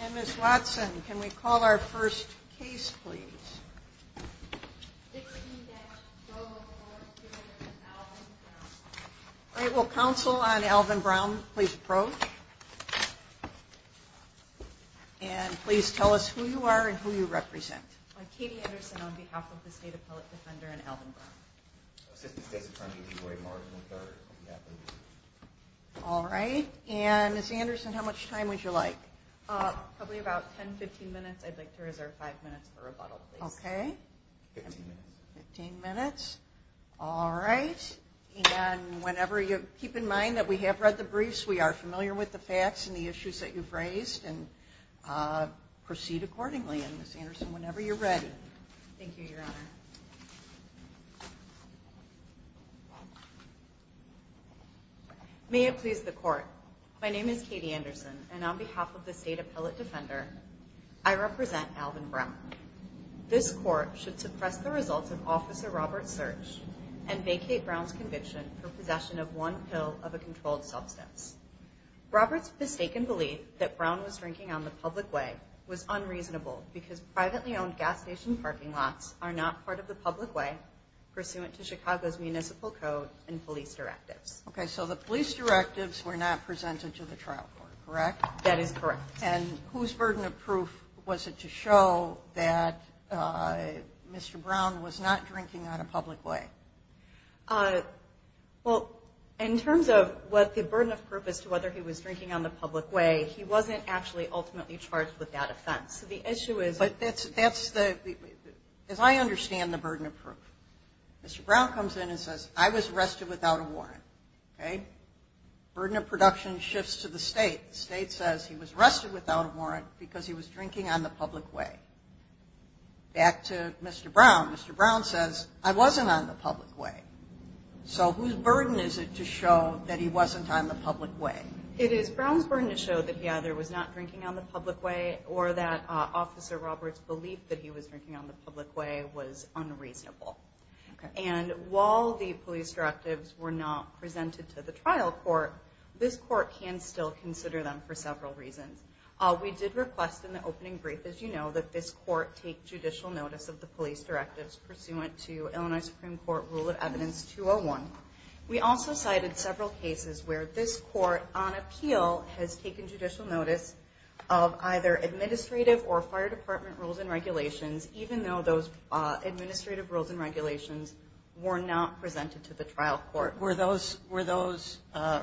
And Ms. Watson, can we call our first case, please? All right, will counsel on Alvin Brown please approach? And please tell us who you are and who you represent. I'm Katie Anderson on behalf of the State Appellate Defender and Alvin Brown. All right, and Ms. Anderson, how much time would you like? Probably about 10-15 minutes. I'd like to reserve five minutes for rebuttal, please. Okay. Fifteen minutes. Fifteen minutes. All right. And whenever you – keep in mind that we have read the briefs. We are familiar with the facts and the issues that you've raised and proceed accordingly. And Ms. Anderson, whenever you're ready. Thank you, Your Honor. May it please the Court. My name is Katie Anderson, and on behalf of the State Appellate Defender, I represent Alvin Brown. This Court should suppress the results of Officer Robert's search and vacate Brown's conviction for possession of one pill of a controlled substance. Robert's mistaken belief that Brown was drinking on the public way was unreasonable because privately owned gas station parking lots are not part of the public way pursuant to Chicago's municipal code and police directives. Okay, so the police directives were not presented to the trial court, correct? That is correct. And whose burden of proof was it to show that Mr. Brown was not drinking on a public way? Well, in terms of what the burden of proof as to whether he was drinking on the public way, he wasn't actually ultimately charged with that offense. But that's the – as I understand the burden of proof, Mr. Brown comes in and says, I was arrested without a warrant, okay? Burden of production shifts to the State. The State says he was arrested without a warrant because he was drinking on the public way. Back to Mr. Brown. Mr. Brown says, I wasn't on the public way. So whose burden is it to show that he wasn't on the public way? It is Brown's burden to show that he either was not drinking on the public way or that Officer Roberts' belief that he was drinking on the public way was unreasonable. And while the police directives were not presented to the trial court, this court can still consider them for several reasons. We did request in the opening brief, as you know, that this court take judicial notice of the police directives pursuant to Illinois Supreme Court Rule of Evidence 201. We also cited several cases where this court, on appeal, has taken judicial notice of either administrative or fire department rules and regulations, even though those administrative rules and regulations were not presented to the trial court. Were those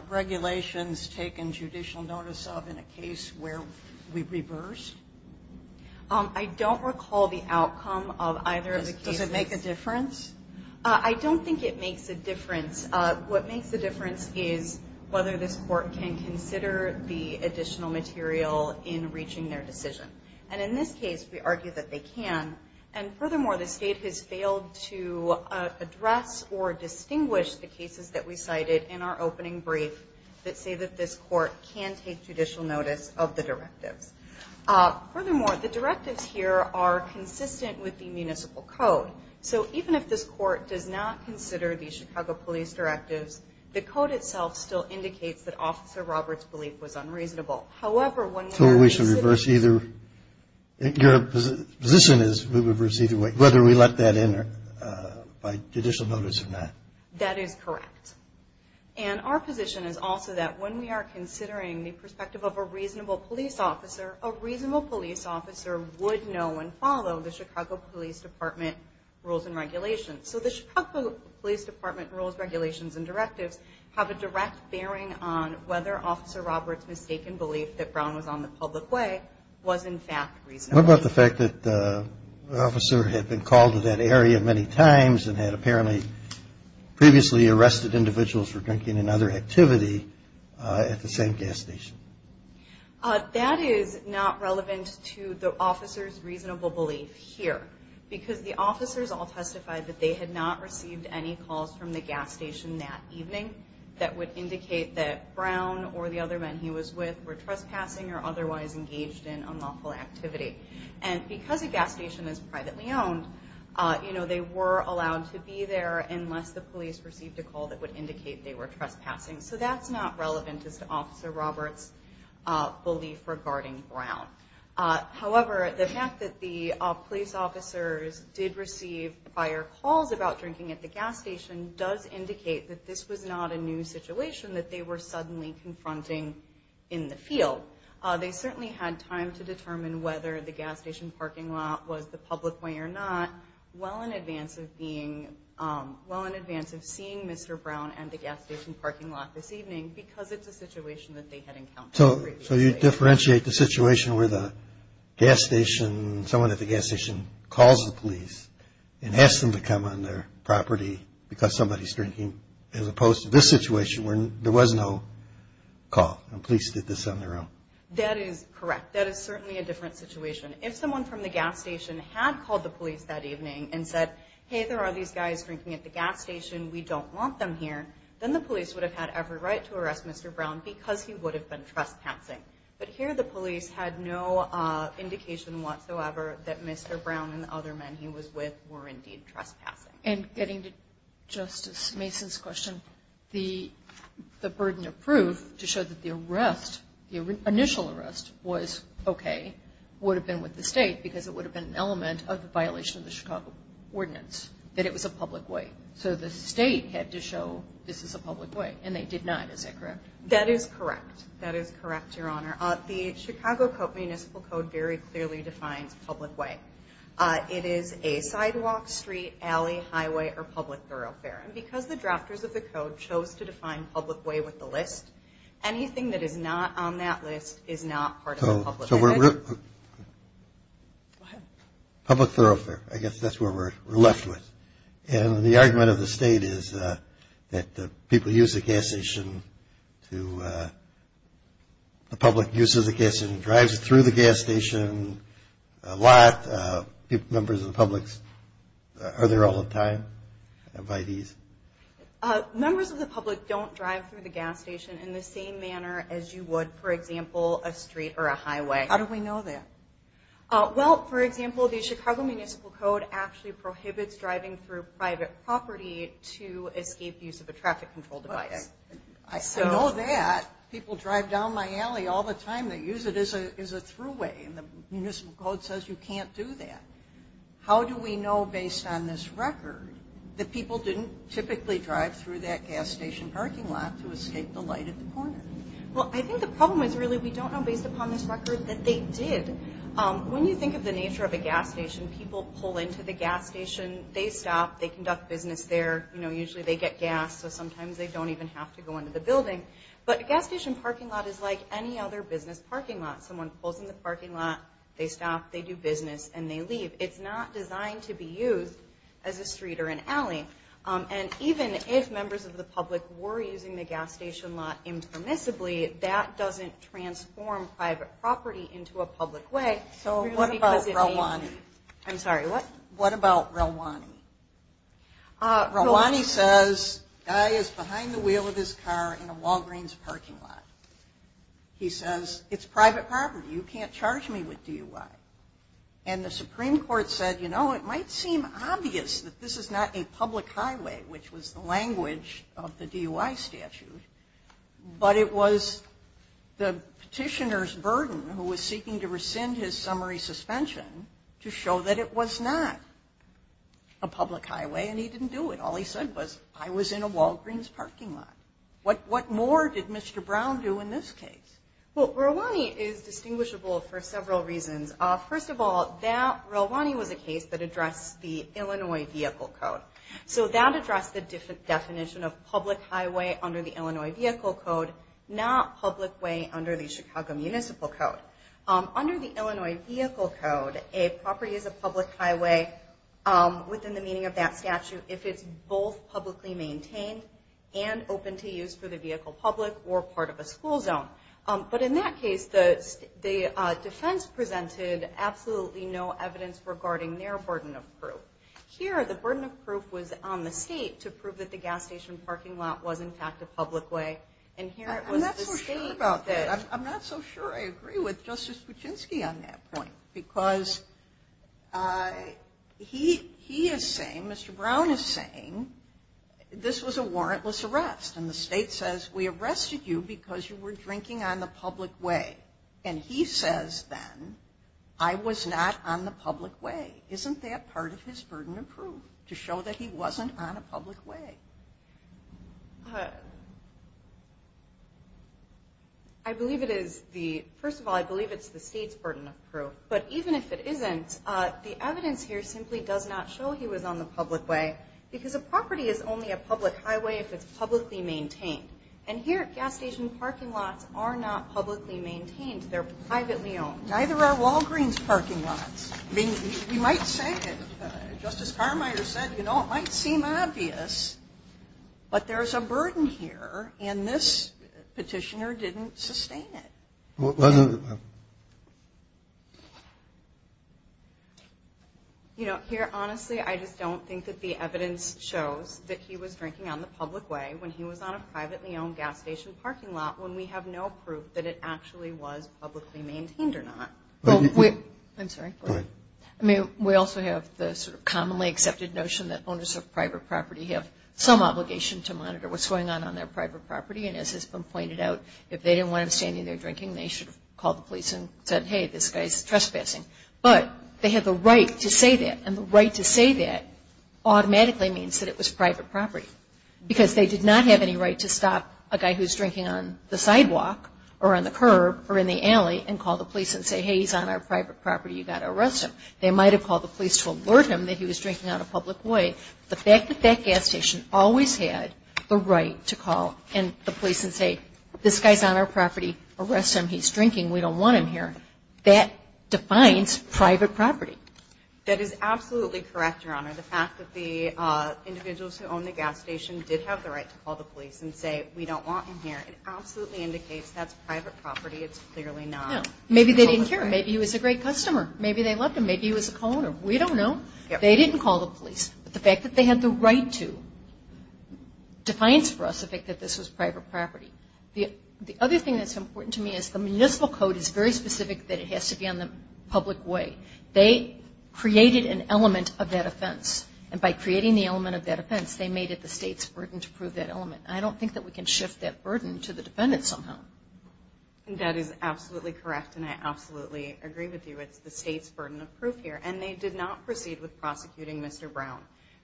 regulations taken judicial notice of in a case where we reversed? I don't recall the outcome of either of the cases. Does it make a difference? I don't think it makes a difference. What makes a difference is whether this court can consider the additional material in reaching their decision. And in this case, we argue that they can. And furthermore, the state has failed to address or distinguish the cases that we cited in our opening brief that say that this court can take judicial notice of the directives. Furthermore, the directives here are consistent with the municipal code. So even if this court does not consider the Chicago police directives, the code itself still indicates that Officer Roberts' belief was unreasonable. So we should reverse either? Your position is we reverse either way, whether we let that in by judicial notice or not. That is correct. And our position is also that when we are considering the perspective of a reasonable police officer, a reasonable police officer would know and follow the Chicago Police Department rules and regulations. So the Chicago Police Department rules, regulations, and directives have a direct bearing on whether Officer Roberts' mistaken belief that Brown was on the public way was, in fact, reasonable. What about the fact that the officer had been called to that area many times and had apparently previously arrested individuals for drinking and other activity at the same gas station? That is not relevant to the officer's reasonable belief here, because the officers all testified that they had not received any calls from the gas station that evening that would indicate that Brown or the other men he was with were trespassing or otherwise engaged in unlawful activity. And because a gas station is privately owned, they were allowed to be there unless the police received a call that would indicate they were trespassing. So that's not relevant as to Officer Roberts' belief regarding Brown. However, the fact that the police officers did receive prior calls about drinking at the gas station does indicate that this was not a new situation that they were suddenly confronting in the field. They certainly had time to determine whether the gas station parking lot was the public way or not well in advance of seeing Mr. Brown and the gas station parking lot this evening because it's a situation that they had encountered previously. So you differentiate the situation where someone at the gas station calls the police and asks them to come on their property because somebody's drinking as opposed to this situation where there was no call and police did this on their own? That is correct. That is certainly a different situation. If someone from the gas station had called the police that evening and said, hey, there are these guys drinking at the gas station, we don't want them here, then the police would have had every right to arrest Mr. Brown because he would have been trespassing. But here the police had no indication whatsoever that Mr. Brown and the other men he was with were indeed trespassing. And getting to Justice Mason's question, the burden of proof to show that the arrest, the initial arrest was okay would have been with the state because it would have been an element of the violation of the Chicago Ordinance, that it was a public way. So the state had to show this is a public way, and they did not. Is that correct? That is correct. That is correct, Your Honor. The Chicago Municipal Code very clearly defines public way. It is a sidewalk, street, alley, highway, or public thoroughfare. And because the drafters of the code chose to define public way with the list, anything that is not on that list is not part of the public way. Go ahead. Public thoroughfare, I guess that's what we're left with. And the argument of the state is that people use the gas station to, the public uses the gas station, drives through the gas station a lot. Members of the public are there all the time by these. Members of the public don't drive through the gas station in the same manner as you would, for example, a street or a highway. How do we know that? Well, for example, the Chicago Municipal Code actually prohibits driving through private property to escape use of a traffic control device. I know that. People drive down my alley all the time. They use it as a throughway, and the Municipal Code says you can't do that. How do we know, based on this record, that people didn't typically drive through that gas station parking lot to escape the light at the corner? Well, I think the problem is really we don't know, based upon this record, that they did. When you think of the nature of a gas station, people pull into the gas station. They stop. They conduct business there. You know, usually they get gas, so sometimes they don't even have to go into the building. But a gas station parking lot is like any other business parking lot. Someone pulls in the parking lot, they stop, they do business, and they leave. It's not designed to be used as a street or an alley. And even if members of the public were using the gas station lot impermissibly, that doesn't transform private property into a public way. So what about Relwani? I'm sorry, what? What about Relwani? Relwani says a guy is behind the wheel of his car in a Walgreens parking lot. He says, it's private property. You can't charge me with DUI. And the Supreme Court said, you know, it might seem obvious that this is not a public highway, which was the language of the DUI statute, but it was the petitioner's burden who was seeking to rescind his summary suspension to show that it was not a public highway, and he didn't do it. All he said was, I was in a Walgreens parking lot. What more did Mr. Brown do in this case? Well, Relwani is distinguishable for several reasons. First of all, Relwani was a case that addressed the Illinois Vehicle Code. So that addressed the definition of public highway under the Illinois Vehicle Code, not public way under the Chicago Municipal Code. Under the Illinois Vehicle Code, a property is a public highway within the meaning of that statute if it's both publicly maintained and open to use for the vehicle public or part of a school zone. But in that case, the defense presented absolutely no evidence regarding their burden of proof. Here, the burden of proof was on the state to prove that the gas station parking lot was in fact a public way. And here it was the state that... I'm not so sure about that. I'm not so sure I agree with Justice Kuczynski on that point. Because he is saying, Mr. Brown is saying, this was a warrantless arrest. And the state says, we arrested you because you were drinking on the public way. And he says then, I was not on the public way. Isn't that part of his burden of proof, to show that he wasn't on a public way? I believe it is the... First of all, I believe it's the state's burden of proof. But even if it isn't, the evidence here simply does not show he was on the public way. Because a property is only a public highway if it's publicly maintained. And here, gas station parking lots are not publicly maintained. They're privately owned. Neither are Walgreens parking lots. I mean, we might say it. Justice Carmichael said, you know, it might seem obvious. But there's a burden here. And this petitioner didn't sustain it. You know, here, honestly, I just don't think that the evidence shows that he was drinking on the public way when he was on a privately owned gas station parking lot, when we have no proof that it actually was publicly maintained or not. I'm sorry. Go ahead. I mean, we also have the sort of commonly accepted notion that owners of private property have some obligation to monitor what's going on on their private property. And as has been pointed out, if they didn't want him standing there drinking, they should have called the police and said, hey, this guy's trespassing. But they have the right to say that. And the right to say that automatically means that it was private property. Because they did not have any right to stop a guy who's drinking on the sidewalk or on the curb or in the alley and call the police and say, hey, he's on our private property. You've got to arrest him. They might have called the police to alert him that he was drinking on a public way. The fact that that gas station always had the right to call the police and say, this guy's on our property, arrest him, he's drinking, we don't want him here, that defines private property. That is absolutely correct, Your Honor. The fact that the individuals who own the gas station did have the right to call the police and say, we don't want him here, it absolutely indicates that's private property. It's clearly not. Maybe they didn't care. Maybe he was a great customer. Maybe they loved him. Maybe he was a co-owner. We don't know. They didn't call the police. But the fact that they had the right to defines for us the fact that this was private property. The other thing that's important to me is the municipal code is very specific that it has to be on the public way. They created an element of that offense. And by creating the element of that offense, they made it the state's burden to prove that element. I don't think that we can shift that burden to the defendant somehow. That is absolutely correct, and I absolutely agree with you. It's the state's burden of proof here. And they did not proceed with prosecuting Mr. Brown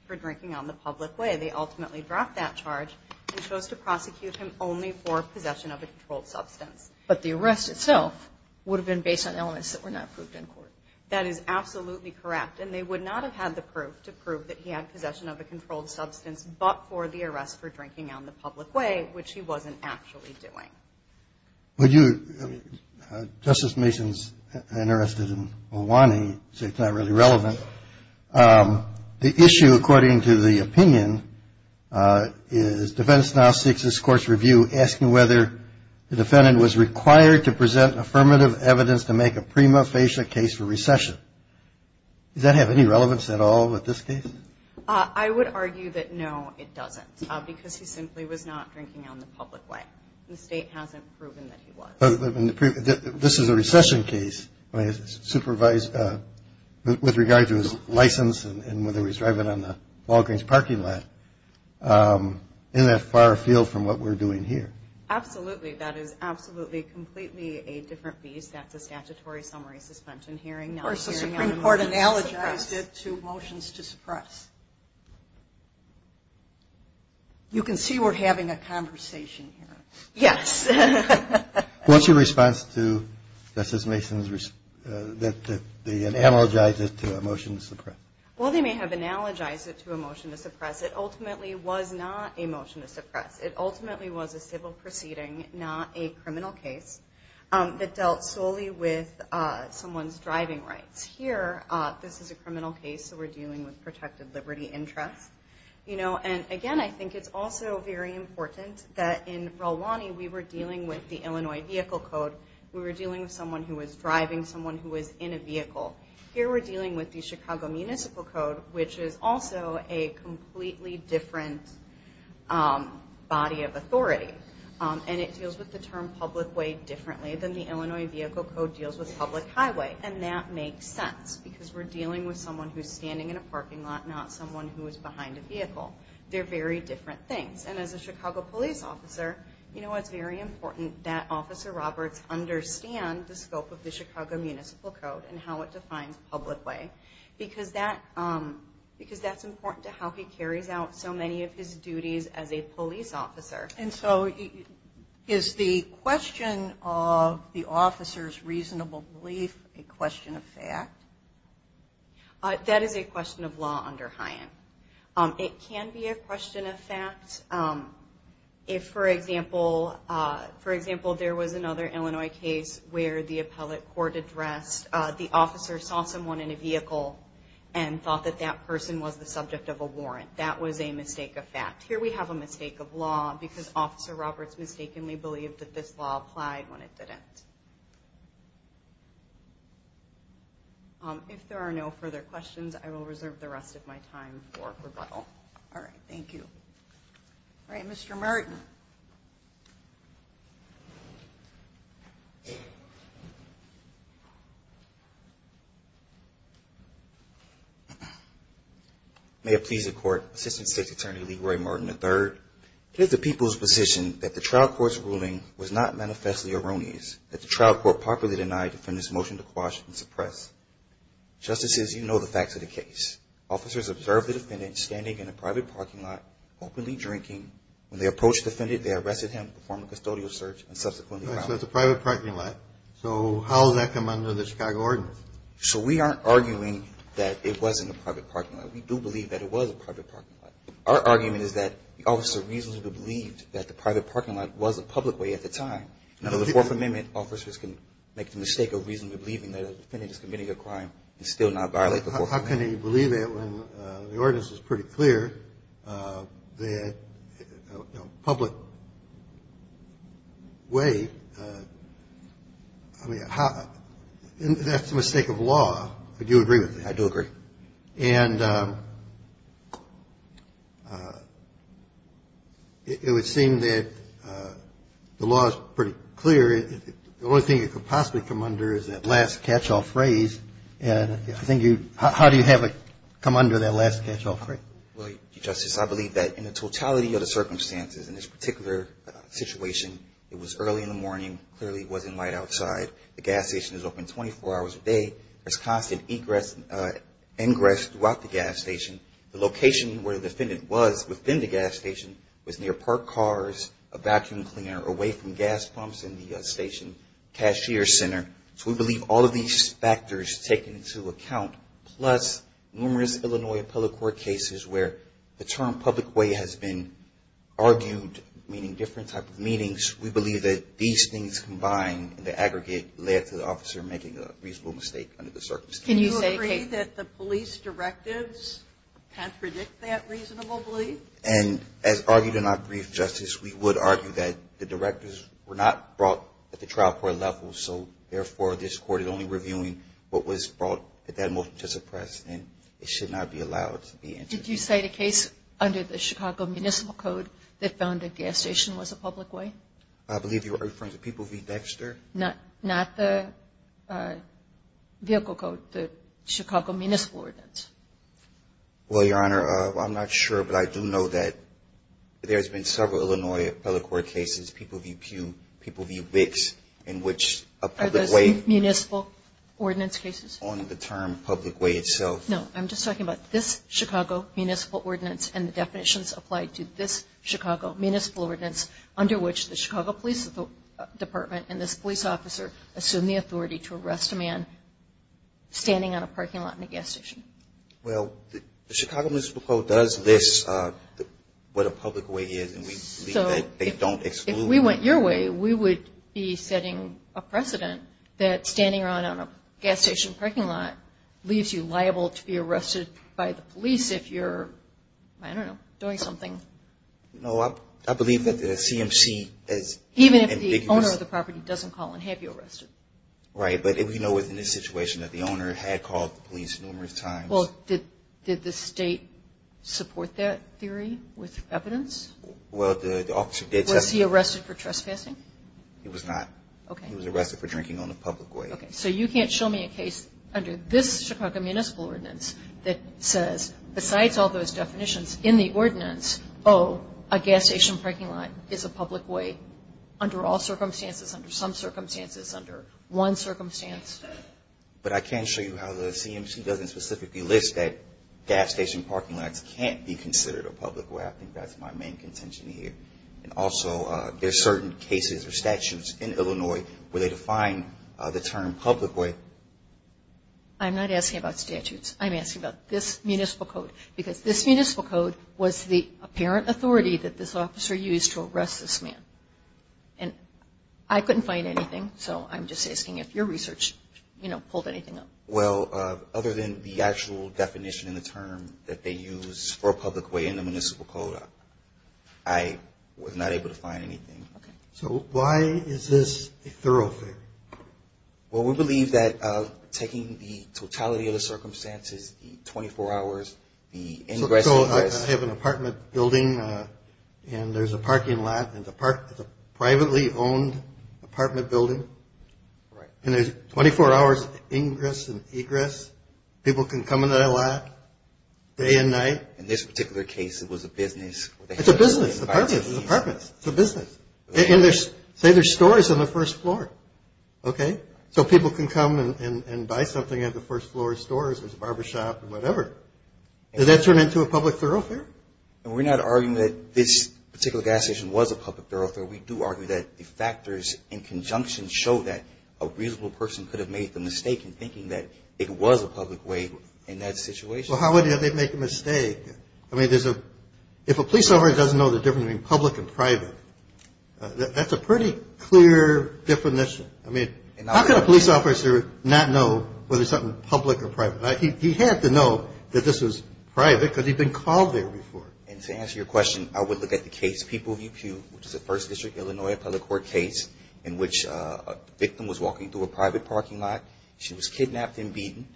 for drinking on the public way. They ultimately dropped that charge and chose to prosecute him only for possession of a controlled substance. But the arrest itself would have been based on elements that were not proved in court. That is absolutely correct. And they would not have had the proof to prove that he had possession of a controlled substance but for the arrest for drinking on the public way, which he wasn't actually doing. Would you? Justice Mason's interested in Ohwani, so it's not really relevant. The issue, according to the opinion, is defense now seeks this court's review, asking whether the defendant was required to present affirmative evidence to make a prima facie case for recession. Does that have any relevance at all with this case? I would argue that no, it doesn't, because he simply was not drinking on the public way. The state hasn't proven that he was. This is a recession case with regard to his license and whether he was driving on the Walgreens parking lot in that far field from what we're doing here. Absolutely. That is absolutely completely a different beast. That's a statutory summary suspension hearing. Of course, the Supreme Court analogized it to motions to suppress. You can see we're having a conversation here. Yes. What's your response to Justice Mason's that they analogized it to a motion to suppress? Well, they may have analogized it to a motion to suppress. It ultimately was not a motion to suppress. It ultimately was a civil proceeding, not a criminal case, that dealt solely with someone's driving rights. Here, this is a criminal case, so we're dealing with protected liberty interests. Again, I think it's also very important that in Rolani we were dealing with the Illinois Vehicle Code. We were dealing with someone who was driving, someone who was in a vehicle. Here, we're dealing with the Chicago Municipal Code, which is also a completely different body of authority. It deals with the term public way differently than the Illinois Vehicle Code deals with public highway. That makes sense because we're dealing with someone who's standing in a parking lot, not someone who is behind a vehicle. They're very different things. As a Chicago police officer, it's very important that Officer Roberts understand the scope of the Chicago Municipal Code and how it defines public way because that's important to how he carries out so many of his duties as a police officer. Is the question of the officer's reasonable belief a question of fact? That is a question of law under Hyann. If, for example, there was another Illinois case where the appellate court addressed the officer saw someone in a vehicle and thought that that person was the subject of a warrant, that was a mistake of fact. Here, we have a mistake of law because Officer Roberts mistakenly believed that this law applied when it didn't. If there are no further questions, I will reserve the rest of my time for rebuttal. All right. Thank you. All right. Mr. Martin. May it please the Court, Assistant State's Attorney Leroy Martin III. It is the people's position that the trial court's ruling was not manifestly erroneous, that the trial court properly denied the defendant's motion to quash and suppress. Justices, you know the facts of the case. Officers observed the defendant standing in a private parking lot, openly drinking. When they approached the defendant, they arrested him, performed a custodial search, and subsequently found him. All right. So it's a private parking lot. So how does that come under the Chicago Ordinance? So we aren't arguing that it wasn't a private parking lot. We do believe that it was a private parking lot. Our argument is that the officer reasonably believed that the private parking lot was a public way at the time. Under the Fourth Amendment, officers can make the mistake of reasonably believing that a defendant is committing a crime and still not violate the Fourth Amendment. Well, how can he believe that when the Ordinance is pretty clear that a public way, I mean, that's a mistake of law. I do agree with that. I do agree. And it would seem that the law is pretty clear. The only thing it could possibly come under is that last catch-all phrase. And I think you – how do you have it come under that last catch-all phrase? Well, Justice, I believe that in the totality of the circumstances in this particular situation, it was early in the morning, clearly wasn't light outside. The gas station is open 24 hours a day. There's constant ingress throughout the gas station. The location where the defendant was within the gas station was near parked cars, a vacuum cleaner, away from gas pumps in the station, cashier center. So we believe all of these factors taken into account, plus numerous Illinois appellate court cases where the term public way has been argued, meaning different type of meanings. We believe that these things combined in the aggregate led to the officer making a reasonable mistake under the circumstances. Can you say, Kate? Do you agree that the police directives contradict that reasonably? And as argued in our brief, Justice, we would argue that the directors were not brought at the trial court level, so therefore this court is only reviewing what was brought at that motion to suppress, and it should not be allowed to be interviewed. Did you cite a case under the Chicago Municipal Code that found a gas station was a public way? I believe you're referring to People v. Dexter. Not the vehicle code, the Chicago Municipal ordinance. Well, Your Honor, I'm not sure, but I do know that there's been several Illinois appellate court cases, People v. Pew, People v. Wicks, in which a public way. Are those municipal ordinance cases? On the term public way itself. No, I'm just talking about this Chicago Municipal ordinance and the definitions applied to this Chicago Municipal ordinance under which the Chicago Police Department and this police officer assume the authority to arrest a man standing on a parking lot in a gas station. Well, the Chicago Municipal Code does list what a public way is, and we believe that they don't exclude. If we went your way, we would be setting a precedent that standing around on a gas station parking lot leaves you liable to be arrested by the police if you're, I don't know, doing something. No, I believe that the CMC is ambiguous. Even if the owner of the property doesn't call and have you arrested. Right, but we know within this situation that the owner had called the police numerous times. Well, did the state support that theory with evidence? Well, the officer did testify. Was he arrested for trespassing? He was not. Okay. He was arrested for drinking on a public way. Okay, so you can't show me a case under this Chicago Municipal ordinance that says, besides all those definitions, in the ordinance, oh, a gas station parking lot is a public way under all circumstances, under some circumstances, under one circumstance. But I can show you how the CMC doesn't specifically list that gas station parking lots can't be considered a public way. I think that's my main contention here. And also, there are certain cases or statutes in Illinois where they define the term public way. I'm not asking about statutes. I'm asking about this municipal code, because this municipal code was the apparent authority that this officer used to arrest this man. And I couldn't find anything, so I'm just asking if your research, you know, pulled anything up. Well, other than the actual definition in the term that they use for a public way in the municipal code, I was not able to find anything. Okay. So why is this a thoroughfare? Well, we believe that taking the totality of the circumstances, the 24 hours, the ingress and egress. I have an apartment building, and there's a parking lot, and it's a privately owned apartment building. Right. And there's 24 hours ingress and egress. People can come in that lot day and night. In this particular case, it was a business. It's a business. It's apartments. It's apartments. It's a business. Say there's stores on the first floor. Okay. So people can come and buy something at the first floor stores. There's a barbershop and whatever. Does that turn into a public thoroughfare? We're not arguing that this particular gas station was a public thoroughfare. We do argue that the factors in conjunction show that a reasonable person could have made the mistake in thinking that it was a public way in that situation. Well, how would they make a mistake? I mean, if a police officer doesn't know the difference between public and private, that's a pretty clear definition. I mean, how can a police officer not know whether something is public or private? He had to know that this was private because he'd been called there before. And to answer your question, I would look at the case, People v. Pew, which is a 1st District, Illinois, public court case in which a victim was walking through a private parking lot. She was kidnapped and beaten.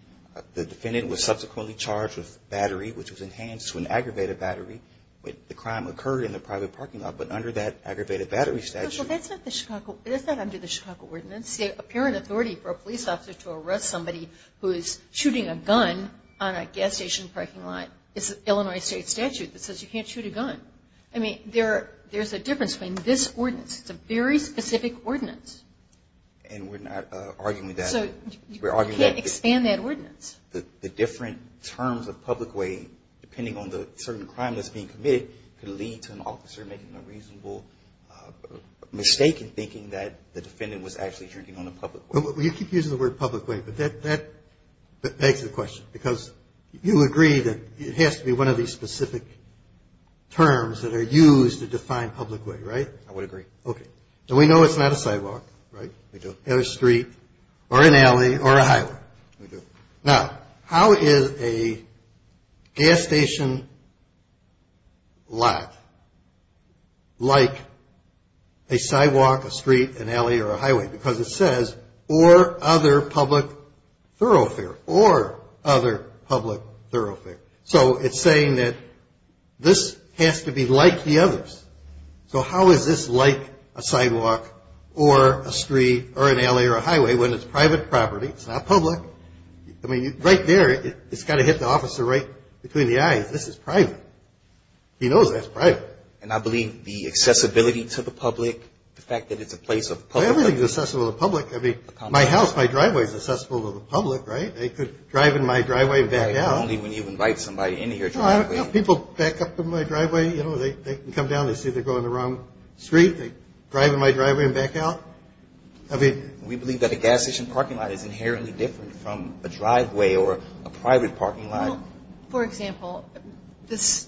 The defendant was subsequently charged with battery, which was enhanced to an aggravated battery. The crime occurred in the private parking lot, but under that aggravated battery statute. Well, that's not under the Chicago ordinance. It's apparent authority for a police officer to arrest somebody who is shooting a gun on a gas station parking lot. It's an Illinois state statute that says you can't shoot a gun. I mean, there's a difference between this ordinance. It's a very specific ordinance. And we're not arguing that. So you can't expand that ordinance. The different terms of public way, depending on the certain crime that's being committed, could lead to an officer making a reasonable mistake in thinking that the defendant was actually shooting on a public way. You keep using the word public way, but that begs the question. Because you agree that it has to be one of these specific terms that are used to define public way, right? I would agree. Okay. And we know it's not a sidewalk, right? We do. Or a street, or an alley, or a highway. We do. Now, how is a gas station lot like a sidewalk, a street, an alley, or a highway? Because it says, or other public thoroughfare. Or other public thoroughfare. So it's saying that this has to be like the others. So how is this like a sidewalk, or a street, or an alley, or a highway when it's private property? It's not public. I mean, right there, it's got to hit the officer right between the eyes. This is private. He knows that's private. And I believe the accessibility to the public, the fact that it's a place of public. Well, everything's accessible to the public. I mean, my house, my driveway is accessible to the public, right? They could drive in my driveway and back out. Right, only when you invite somebody in here. No, I don't have people back up in my driveway. You know, they come down, they see they're going the wrong street, they drive in my driveway and back out. We believe that a gas station parking lot is inherently different from a driveway or a private parking lot. Well, for example, this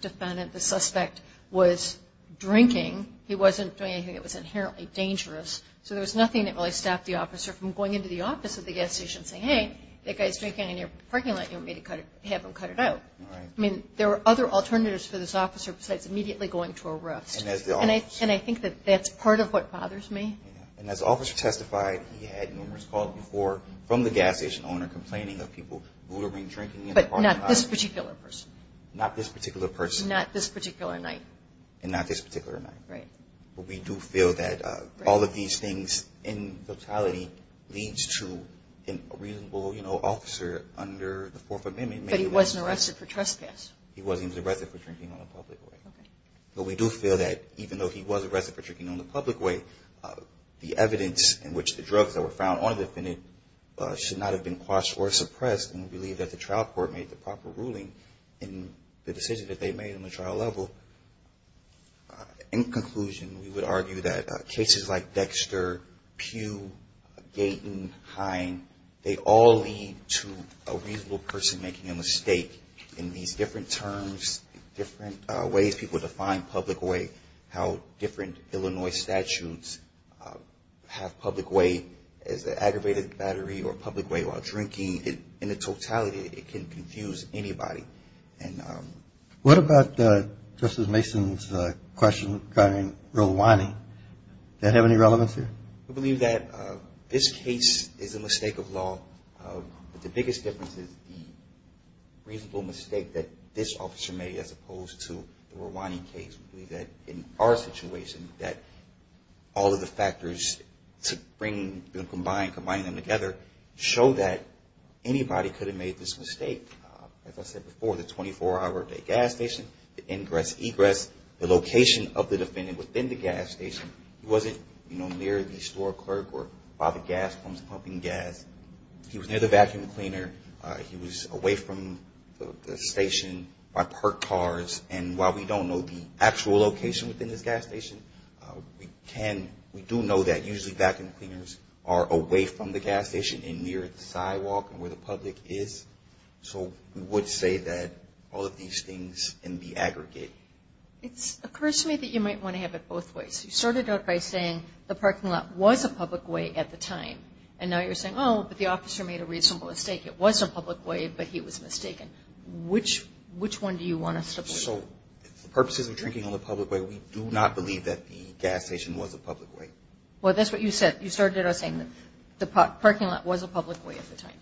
defendant, the suspect, was drinking. He wasn't doing anything that was inherently dangerous. So there was nothing that really stopped the officer from going into the office of the gas station and saying, hey, that guy's drinking in your parking lot and you want me to have him cut it out. I mean, there are other alternatives for this officer besides immediately going to arrest. And that's the office. And I think that that's part of what bothers me. And as the officer testified, he had numerous calls before from the gas station owner complaining of people bootering, drinking in the parking lot. But not this particular person. Not this particular person. Not this particular night. And not this particular night. Right. But we do feel that all of these things in totality leads to a reasonable officer under the Fourth Amendment. But he wasn't arrested for trespass. He wasn't. He was arrested for drinking on the public way. Okay. But we do feel that even though he was arrested for drinking on the public way, the evidence in which the drugs that were found on the defendant should not have been quashed or suppressed and we believe that the trial court made the proper ruling in the decision that they made on the trial level. In conclusion, we would argue that cases like Dexter, Pugh, Gaten, Hine, they all lead to a reasonable person making a mistake in these different terms, different ways people define public way, how different Illinois statutes have public way as an aggravated battery or public way while drinking. In the totality, it can confuse anybody. What about Justice Mason's question regarding real whining? Does that have any relevance here? We believe that this case is a mistake of law. The biggest difference is the reasonable mistake that this officer made as opposed to the whining case. We believe that in our situation that all of the factors combined, combining them together, show that anybody could have made this mistake. As I said before, the 24-hour gas station, the ingress, egress, the location of the defendant within the gas station, he wasn't near the store clerk or by the gas pumps pumping gas. He was near the vacuum cleaner. He was away from the station by parked cars. And while we don't know the actual location within this gas station, we do know that usually vacuum cleaners are away from the gas station and near the sidewalk where the public is. So we would say that all of these things can be aggregate. It occurs to me that you might want to have it both ways. You started out by saying the parking lot was a public way at the time. And now you're saying, oh, but the officer made a reasonable mistake. It was a public way, but he was mistaken. Which one do you want to support? So the purposes of drinking on the public way, we do not believe that the gas station was a public way. Well, that's what you said. You started out saying the parking lot was a public way at the time.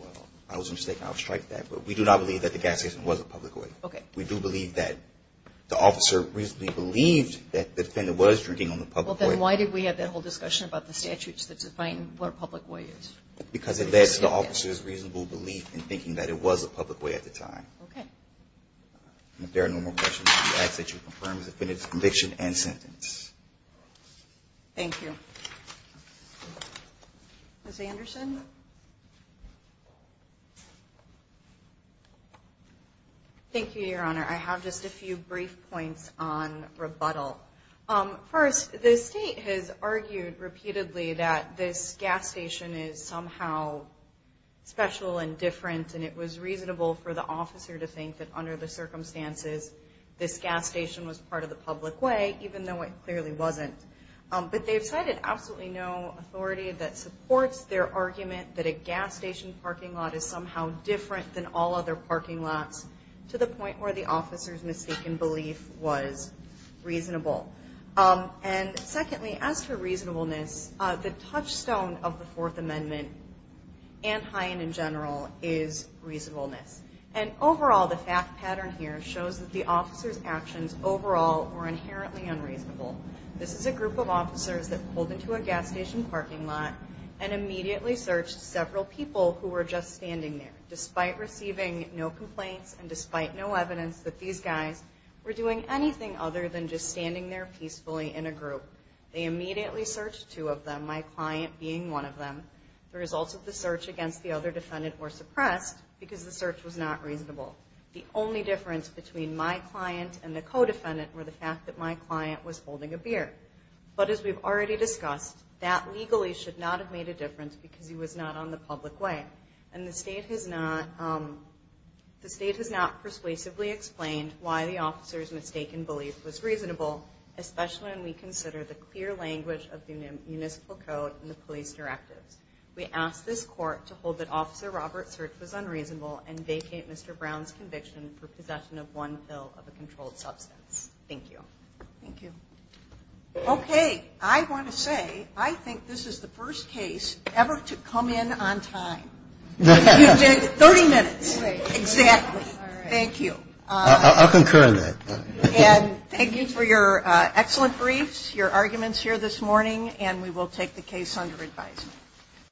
Well, I was mistaken. I'll strike that. But we do not believe that the gas station was a public way. Okay. We do believe that the officer reasonably believed that the defendant was drinking on the public way. Well, then why did we have that whole discussion about the statutes that define what a public way is? Because of this, the officer's reasonable belief in thinking that it was a public way at the time. Okay. If there are no more questions, I ask that you confirm the defendant's conviction and sentence. Thank you. Ms. Anderson? Thank you, Your Honor. I have just a few brief points on rebuttal. First, the state has argued repeatedly that this gas station is somehow special and different, and it was reasonable for the officer to think that under the circumstances, this gas station was part of the public way, even though it clearly wasn't. But they've cited absolutely no authority that supports their argument that a gas station parking lot is somehow different than all other parking lots, to the point where the officer's mistaken belief was reasonable. And, secondly, as for reasonableness, the touchstone of the Fourth Amendment and Hyen in general is reasonableness. And, overall, the fact pattern here shows that the officer's actions overall were inherently unreasonable. This is a group of officers that pulled into a gas station parking lot and immediately searched several people who were just standing there, despite receiving no complaints and despite no evidence that these guys were doing anything other than just standing there peacefully in a group. They immediately searched two of them, my client being one of them. The results of the search against the other defendant were suppressed because the search was not reasonable. The only difference between my client and the co-defendant were the fact that my client was holding a beer. But, as we've already discussed, that legally should not have made a difference because he was not on the public way. And the state has not persuasively explained why the officer's mistaken belief was reasonable, especially when we consider the clear language of the municipal code and the police directives. We ask this Court to hold that Officer Robert's search was unreasonable and vacate Mr. Brown's conviction for possession of one pill of a controlled substance. Thank you. Thank you. Okay. I want to say I think this is the first case ever to come in on time. You did 30 minutes. Right. Exactly. All right. Thank you. I'll concur on that. And thank you for your excellent briefs, your arguments here this morning, and we will take the case under advisement.